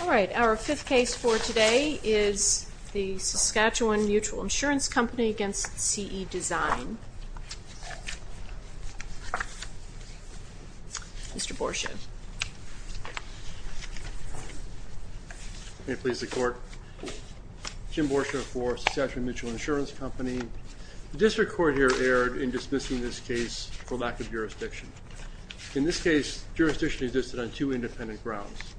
All right, our fifth case for today is the Saskatchewan Mutual Insurance Company v. CE Design. Mr. Borsche. May it please the Court. Jim Borsche for Saskatchewan Mutual Insurance Company. The district court here erred in dismissing this case for lack of jurisdiction. In this case, jurisdiction existed on two independent grounds.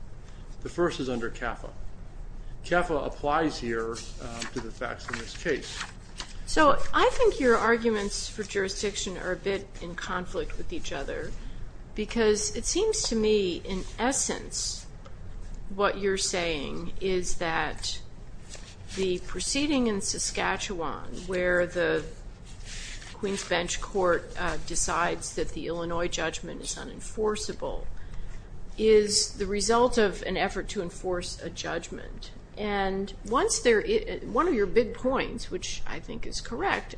The first is under CAFA. CAFA applies here to the facts in this case. So I think your arguments for jurisdiction are a bit in conflict with each other, because it seems to me, in essence, what you're saying is that the proceeding in Saskatchewan, where the Queens bench court decides that the Illinois judgment is unenforceable, is the result of an effort to enforce a judgment. And one of your big points, which I think is correct,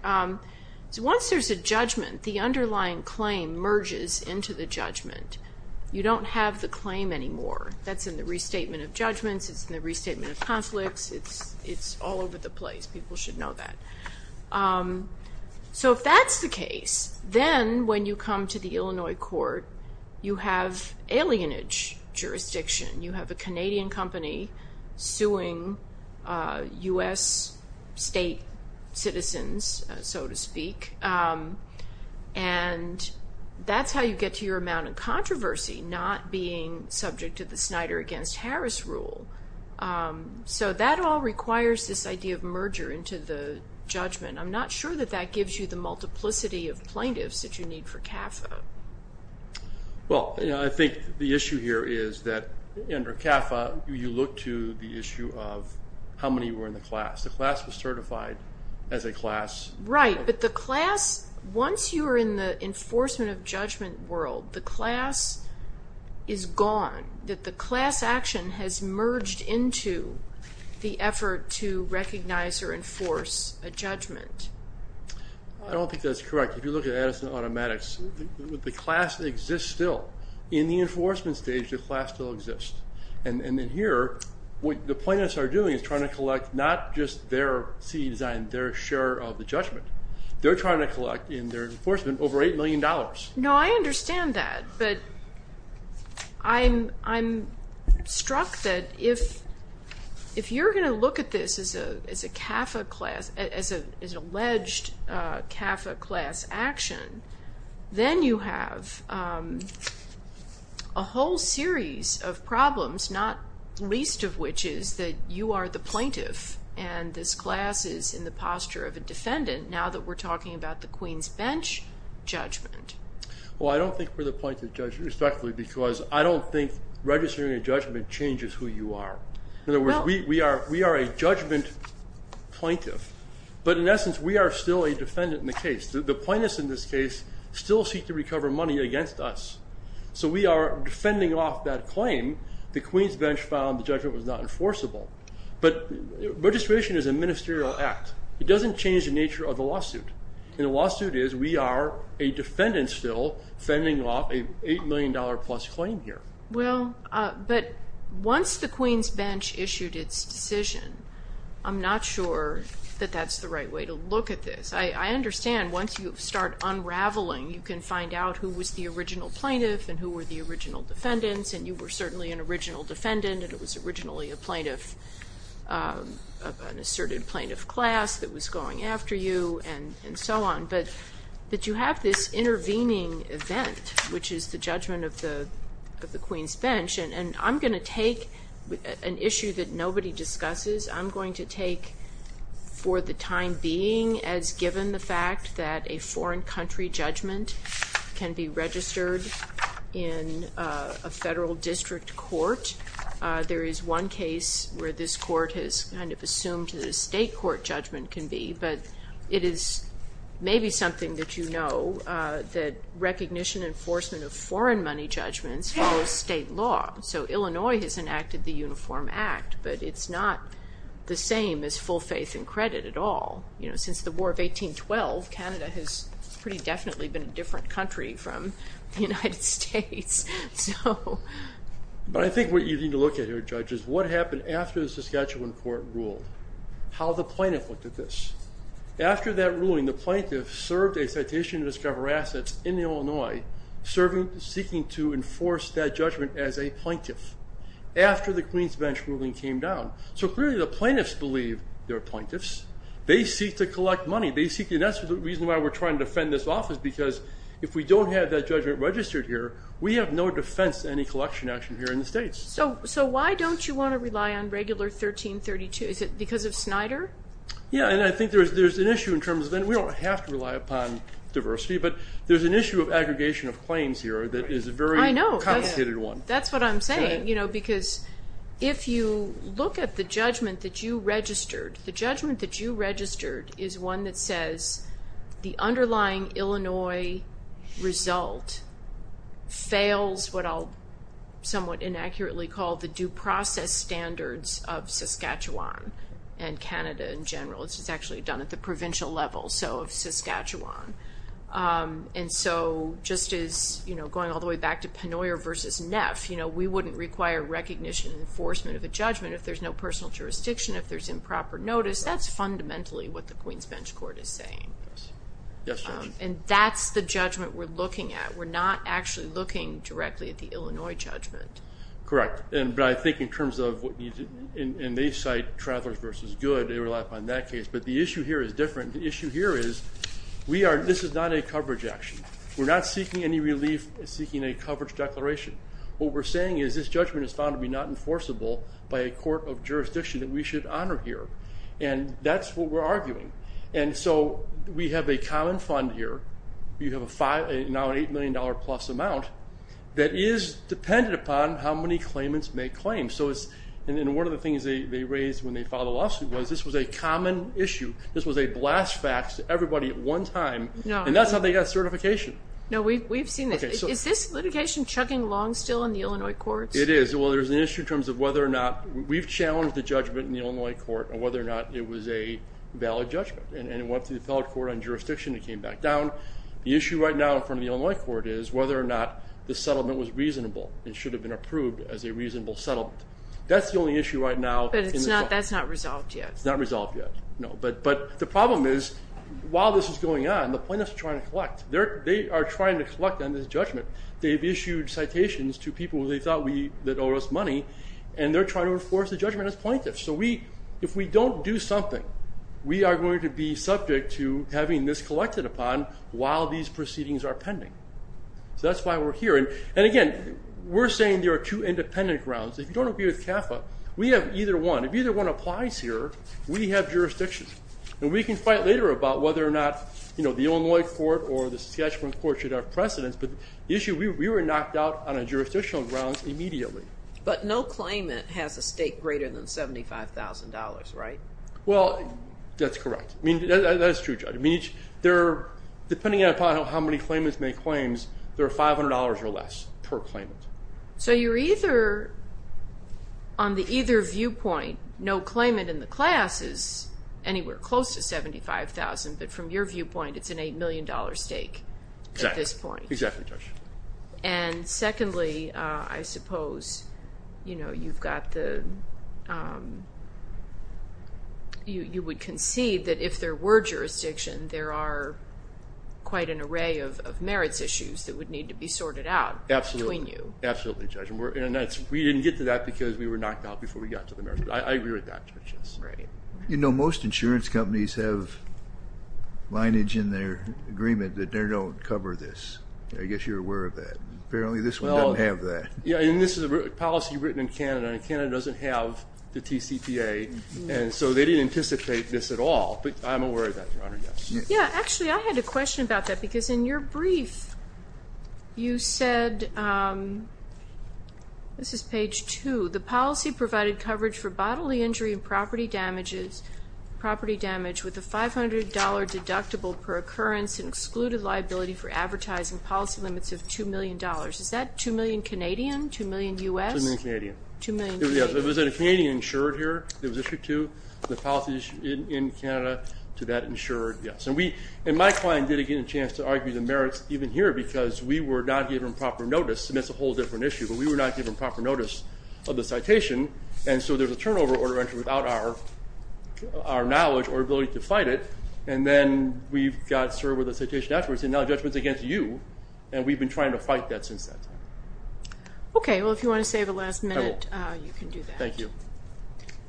is once there's a judgment, the underlying claim merges into the judgment. You don't have the claim anymore. That's in the restatement of judgments. It's in the restatement of conflicts. It's all over the place. People should know that. So if that's the case, then when you come to the Illinois court, you have alienage jurisdiction. You have a Canadian company suing U.S. state citizens, so to speak. And that's how you get to your amount of controversy, not being subject to the Snyder against Harris rule. So that all requires this idea of merger into the judgment. I'm not sure that that gives you the multiplicity of plaintiffs that you need for CAFA. Well, I think the issue here is that under CAFA, you look to the issue of how many were in the class. The class was certified as a class. Right, but the class, once you are in the enforcement of judgment world, the class is gone. That the class action has merged into the effort to recognize or enforce a judgment. I don't think that's correct. If you look at Edison Automatics, the class exists still. In the enforcement stage, the class still exists. And then here, what the plaintiffs are doing is trying to collect not just their CD design, their share of the judgment. They're trying to collect in their enforcement over $8 million. No, I understand that. But I'm struck that if you're going to look at this as a CAFA class, as an alleged CAFA class action, then you have a whole series of problems, not least of which is that you are the plaintiff. And this class is in the posture of a defendant now that we're talking about the Queen's Bench judgment. Well, I don't think we're the plaintiff, respectfully, because I don't think registering a judgment changes who you are. In other words, we are a judgment plaintiff. But in essence, we are still a defendant in the case. The plaintiffs in this case still seek to recover money against us. So we are defending off that claim. The Queen's Bench found the judgment was not enforceable. But registration is a ministerial act. It doesn't change the nature of the lawsuit. And the lawsuit is we are a defendant still fending off an $8 million-plus claim here. Well, but once the Queen's Bench issued its decision, I'm not sure that that's the right way to look at this. I understand once you start unraveling, you can find out who was the original plaintiff and who were the original defendants, and you were certainly an original defendant and it was originally a plaintiff, an asserted plaintiff class that was going after you and so on. But that you have this intervening event, which is the judgment of the Queen's Bench, and I'm going to take an issue that nobody discusses. I'm going to take for the time being as given the fact that a foreign country judgment can be registered in a federal district court. There is one case where this court has kind of assumed that a state court judgment can be, but it is maybe something that you know that recognition enforcement of foreign money judgments follows state law. So Illinois has enacted the Uniform Act, but it's not the same as full faith and credit at all. Since the War of 1812, Canada has pretty definitely been a different country from the United States. But I think what you need to look at here, Judge, is what happened after the Saskatchewan court ruled, how the plaintiff looked at this. After that ruling, the plaintiff served a citation to discover assets in Illinois, seeking to enforce that judgment as a plaintiff, after the Queen's Bench ruling came down. So clearly the plaintiffs believe they're plaintiffs. They seek to collect money. That's the reason why we're trying to defend this office, because if we don't have that judgment registered here, we have no defense to any collection action here in the states. So why don't you want to rely on regular 1332? Is it because of Snyder? Yeah, and I think there's an issue in terms of, we don't have to rely upon diversity, but there's an issue of aggregation of claims here that is a very complicated one. That's what I'm saying, because if you look at the judgment that you registered, the judgment that you registered is one that says the underlying Illinois result fails what I'll somewhat inaccurately call the due process standards of Saskatchewan and Canada in general. This is actually done at the provincial level, so of Saskatchewan. And so just as going all the way back to Pennoyer v. Neff, we wouldn't require recognition and enforcement of a judgment if there's no personal jurisdiction, if there's improper notice. That's fundamentally what the Queen's Bench Court is saying. Yes, Judge. And that's the judgment we're looking at. We're not actually looking directly at the Illinois judgment. Correct. But I think in terms of, and they cite Travelers v. Good, they rely upon that case, but the issue here is different. The issue here is this is not a coverage action. We're not seeking any relief, seeking a coverage declaration. What we're saying is this judgment is found to be not enforceable by a court of jurisdiction that we should honor here, and that's what we're arguing. And so we have a common fund here. You have now an $8 million-plus amount that is dependent upon how many claimants make claims. And one of the things they raised when they filed the lawsuit was this was a common issue. This was a blast fax to everybody at one time, and that's how they got certification. No, we've seen this. Is this litigation chugging along still in the Illinois courts? It is. Well, there's an issue in terms of whether or not we've challenged the judgment in the Illinois court and whether or not it was a valid judgment. And it went through the federal court on jurisdiction. It came back down. The issue right now in front of the Illinois court is whether or not the settlement was reasonable and should have been approved as a reasonable settlement. That's the only issue right now. But that's not resolved yet. It's not resolved yet, no. But the problem is while this is going on, the plaintiffs are trying to collect. They are trying to collect on this judgment. They've issued citations to people they thought owed us money, and they're trying to enforce the judgment as plaintiffs. So if we don't do something, we are going to be subject to having this collected upon while these proceedings are pending. So that's why we're here. And, again, we're saying there are two independent grounds. If you don't agree with CAFA, we have either one. If either one applies here, we have jurisdiction. And we can fight later about whether or not the Illinois court or the Saskatchewan court should have precedence, but the issue is we were knocked out on a jurisdictional grounds immediately. But no claimant has a stake greater than $75,000, right? Well, that's correct. That is true, Judge. Depending upon how many claimants make claims, there are $500 or less per claimant. So you're either on the either viewpoint, no claimant in the class is anywhere close to $75,000, but from your viewpoint it's an $8 million stake at this point. Exactly, Judge. And, secondly, I suppose, you know, you've got the – you would concede that if there were jurisdiction, there are quite an array of merits issues that would need to be sorted out. Absolutely. Between you. Absolutely, Judge. And we didn't get to that because we were knocked out before we got to the merits. I agree with that, Judge. Right. You know, most insurance companies have lineage in their agreement that they don't cover this. I guess you're aware of that. Apparently this one doesn't have that. Yeah, and this is a policy written in Canada, and Canada doesn't have the TCPA, and so they didn't anticipate this at all. But I'm aware of that, Your Honor. Yeah, actually, I had a question about that because in your brief you said – this is page 2 – the policy provided coverage for bodily injury and property damage with a $500 deductible per occurrence and excluded liability for advertising policy limits of $2 million. Is that $2 million Canadian, $2 million U.S.? $2 million Canadian. $2 million Canadian. Yeah, it was a Canadian insured here it was issued to, the policies in Canada to that insured, yes. And my client didn't get a chance to argue the merits even here because we were not given proper notice, and that's a whole different issue, but we were not given proper notice of the citation, and so there's a turnover order entry without our knowledge or ability to fight it, and then we got served with a citation afterwards and now the judgment's against you, and we've been trying to fight that since then. Okay. Well, if you want to save the last minute, you can do that. I will. Thank you.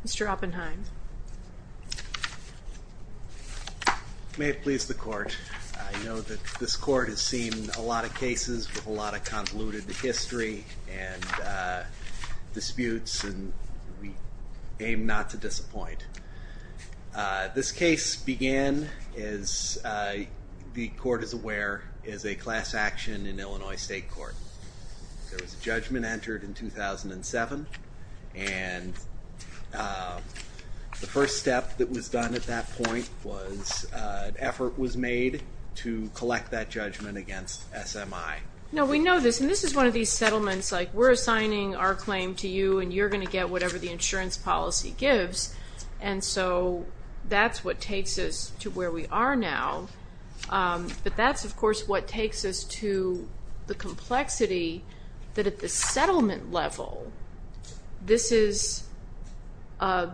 Mr. Oppenheim. May it please the Court, I know that this Court has seen a lot of cases with a lot of convoluted history and disputes, and we aim not to disappoint. This case began, as the Court is aware, as a class action in Illinois State Court. There was a judgment entered in 2007, and the first step that was done at that point was an effort was made to collect that judgment against SMI. No, we know this, and this is one of these settlements, like we're assigning our claim to you and you're going to get whatever the insurance policy gives, and so that's what takes us to where we are now, but that's, of course, what takes us to the complexity that at the settlement level, this is a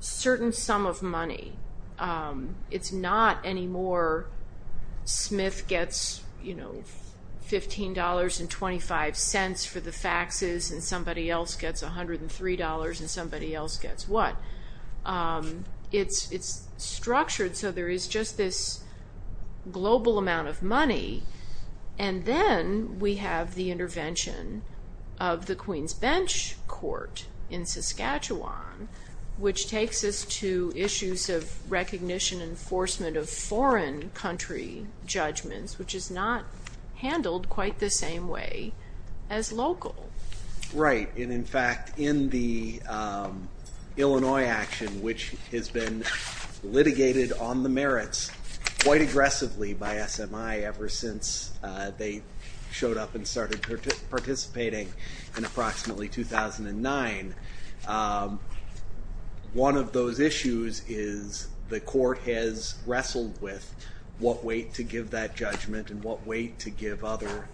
certain sum of money. It's not any more Smith gets $15.25 for the faxes and somebody else gets $103 and somebody else gets what. It's structured so there is just this global amount of money, and then we have the intervention of the Queen's Bench Court in Saskatchewan, which takes us to issues of recognition and enforcement of foreign country judgments, which is not handled quite the same way as local. Right, and, in fact, in the Illinois action, which has been litigated on the merits quite aggressively by SMI ever since they showed up and started participating in approximately 2009, one of those issues is the court has wrestled with what weight to give that judgment and what weight to give other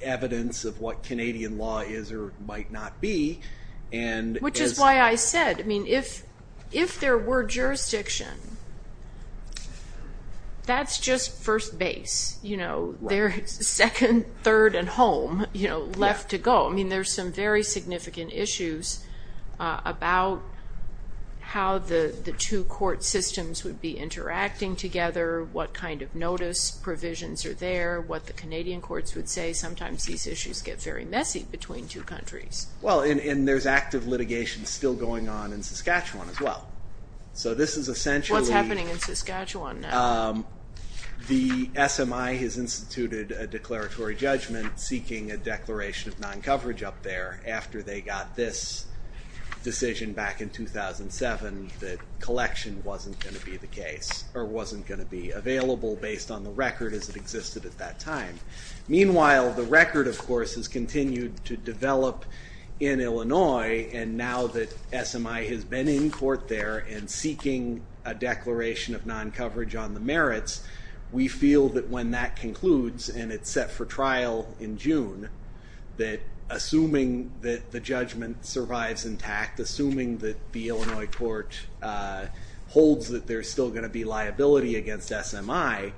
evidence of what Canadian law is or might not be. Which is why I said, I mean, if there were jurisdiction, that's just first base. There's second, third, and home left to go. I mean, there's some very significant issues about how the two court systems would be interacting together, what kind of notice provisions are there, what the Canadian courts would say. Sometimes these issues get very messy between two countries. Well, and there's active litigation still going on in Saskatchewan as well. What's happening in Saskatchewan now? The SMI has instituted a declaratory judgment seeking a declaration of non-coverage up there after they got this decision back in 2007 that collection wasn't going to be the case or wasn't going to be available based on the record as it existed at that time. Meanwhile, the record, of course, has continued to develop in Illinois, and now that SMI has been in court there and seeking a declaration of non-coverage on the merits, we feel that when that concludes and it's set for trial in June, that assuming that the judgment survives intact, assuming that the Illinois court holds that there's still going to be liability against SMI,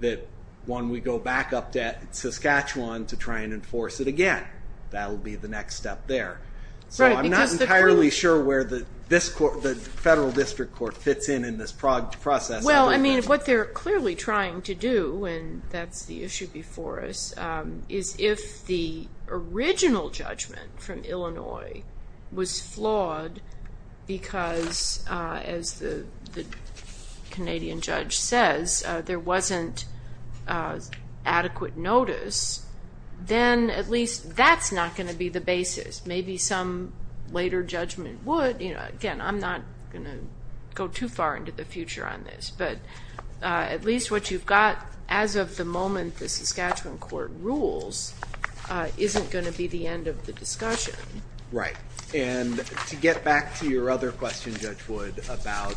that when we go back up to Saskatchewan to try and enforce it again, that will be the next step there. So I'm not entirely sure where the federal district court fits in in this process. Well, I mean, what they're clearly trying to do, and that's the issue before us, is if the original judgment from Illinois was flawed because, as the Canadian judge says, there wasn't adequate notice, then at least that's not going to be the basis. Maybe some later judgment would. Again, I'm not going to go too far into the future on this, but at least what you've got as of the moment the Saskatchewan court rules isn't going to be the end of the discussion. Right. And to get back to your other question, Judge Wood, about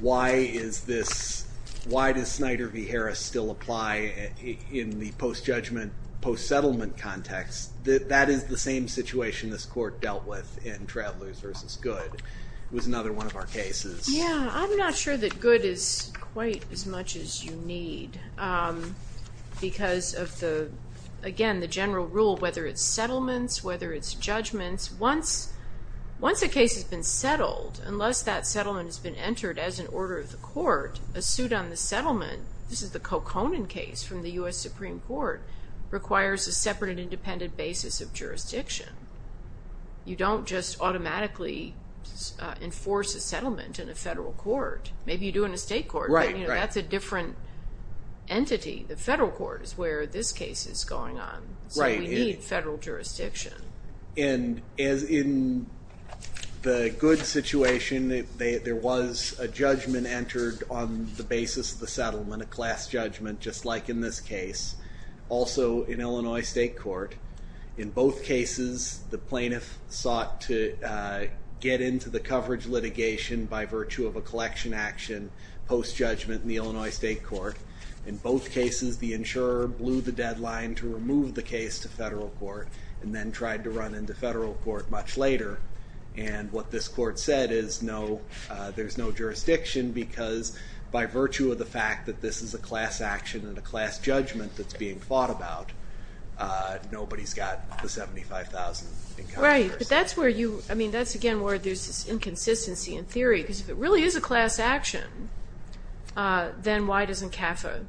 why does Snyder v. Harris still apply in the post-judgment, post-settlement context, that is the same situation this court dealt with in Travellers v. Good. It was another one of our cases. Yeah. I'm not sure that Good is quite as much as you need because of the, again, the general rule, whether it's settlements, whether it's judgments. Once a case has been settled, unless that settlement has been entered as an order of the court, a suit on the settlement, this is the Coconin case from the U.S. Supreme Court, requires a separate and independent basis of jurisdiction. You don't just automatically enforce a settlement in a federal court. Maybe you do in a state court, but that's a different entity. The federal court is where this case is going on, so we need federal jurisdiction. And in the Good situation, there was a judgment entered on the basis of the settlement, a class judgment, just like in this case, also in Illinois State Court. In both cases, the plaintiff sought to get into the coverage litigation by virtue of a collection action post-judgment in the Illinois State Court. In both cases, the insurer blew the deadline to remove the case to federal court and then tried to run into federal court much later. And what this court said is no, there's no jurisdiction because by virtue of the fact that this is a class action and a class judgment that's being fought about, nobody's got the $75,000 in coverage. Right, but that's where you, I mean, that's again where there's this inconsistency in theory because if it really is a class action, then why doesn't CAFA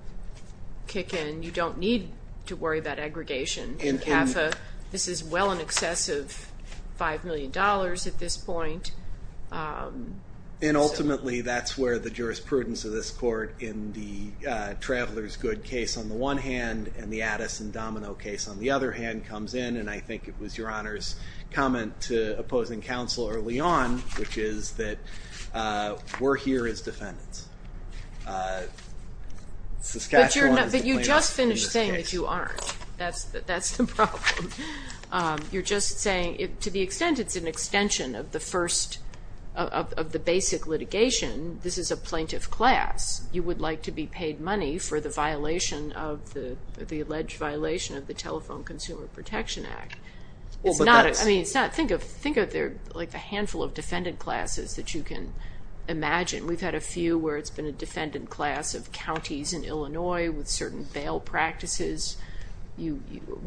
kick in? You don't need to worry about aggregation in CAFA. This is well in excess of $5 million at this point. And ultimately, that's where the jurisprudence of this court in the Traveler's Good case on the one hand and the Addis and Domino case on the other hand comes in, and I think it was Your Honor's comment to opposing counsel early on, which is that we're here as defendants. Saskatchewan is a plaintiff in this case. But you just finished saying that you aren't. That's the problem. You're just saying to the extent it's an extension of the basic litigation, this is a plaintiff class. You would like to be paid money for the alleged violation of the Telephone Consumer Protection Act. Think of there like a handful of defendant classes that you can imagine. We've had a few where it's been a defendant class of counties in Illinois with certain bail practices.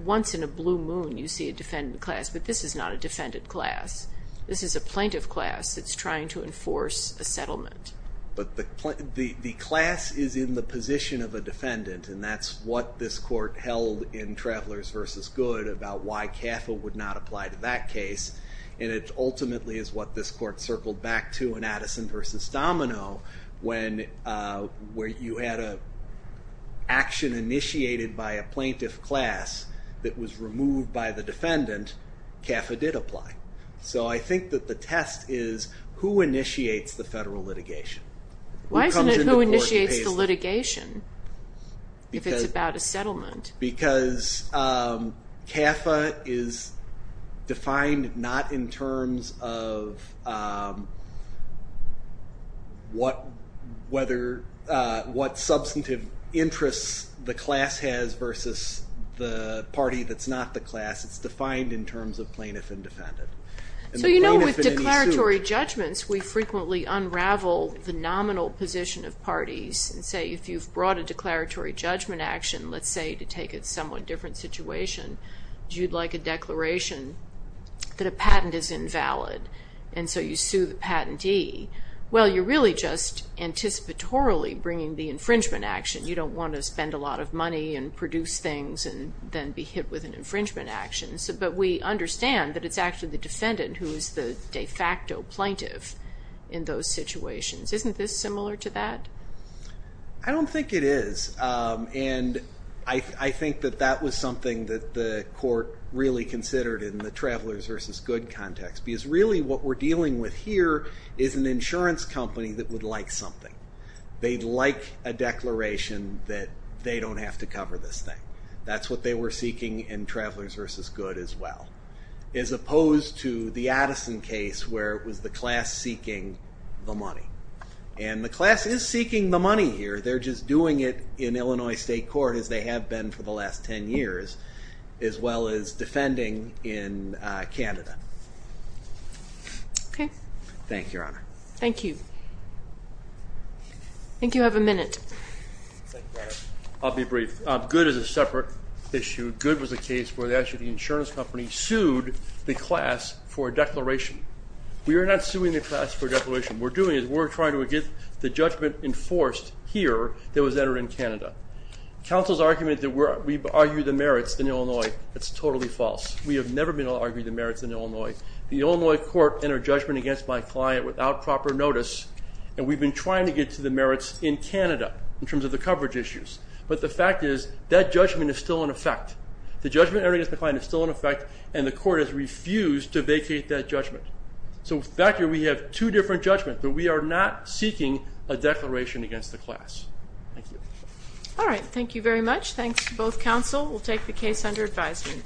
Once in a blue moon, you see a defendant class. But this is not a defendant class. This is a plaintiff class that's trying to enforce a settlement. But the class is in the position of a defendant, and that's what this court held in Traveler's versus Good about why CAFA would not apply to that case. And it ultimately is what this court circled back to in Addison versus Domino, where you had an action initiated by a plaintiff class that was removed by the defendant. CAFA did apply. So I think that the test is who initiates the federal litigation? Who comes into court and pays the money? Why isn't it who initiates the litigation if it's about a settlement? Because CAFA is defined not in terms of what substantive interests the class has versus the party that's not the class. It's defined in terms of plaintiff and defendant. So you know with declaratory judgments, we frequently unravel the nominal position of parties and say if you've brought a declaratory judgment action, let's say to take a somewhat different situation, you'd like a declaration that a patent is invalid, and so you sue the patentee. Well, you're really just anticipatorily bringing the infringement action. You don't want to spend a lot of money and produce things and then be hit with an infringement action. But we understand that it's actually the defendant who is the de facto plaintiff in those situations. Isn't this similar to that? I don't think it is, and I think that that was something that the court really considered in the Travelers vs. Good context because really what we're dealing with here is an insurance company that would like something. They'd like a declaration that they don't have to cover this thing. That's what they were seeking in Travelers vs. Good as well, as opposed to the Addison case where it was the class seeking the money. And the class is seeking the money here. They're just doing it in Illinois State Court as they have been for the last 10 years as well as defending in Canada. Okay. Thank you, Your Honor. Thank you. I think you have a minute. I'll be brief. Good is a separate issue. Good was a case where actually the insurance company sued the class for a declaration. We are not suing the class for a declaration. What we're doing is we're trying to get the judgment enforced here that was entered in Canada. Counsel's argument that we've argued the merits in Illinois, that's totally false. We have never been able to argue the merits in Illinois. The Illinois court entered judgment against my client without proper notice, and we've been trying to get to the merits in Canada in terms of the coverage issues. But the fact is that judgment is still in effect. The judgment entered against the client is still in effect, and the court has refused to vacate that judgment. So, in fact, here we have two different judgments, but we are not seeking a declaration against the class. Thank you. All right. Thank you very much. Thanks to both counsel. We'll take the case under advisement.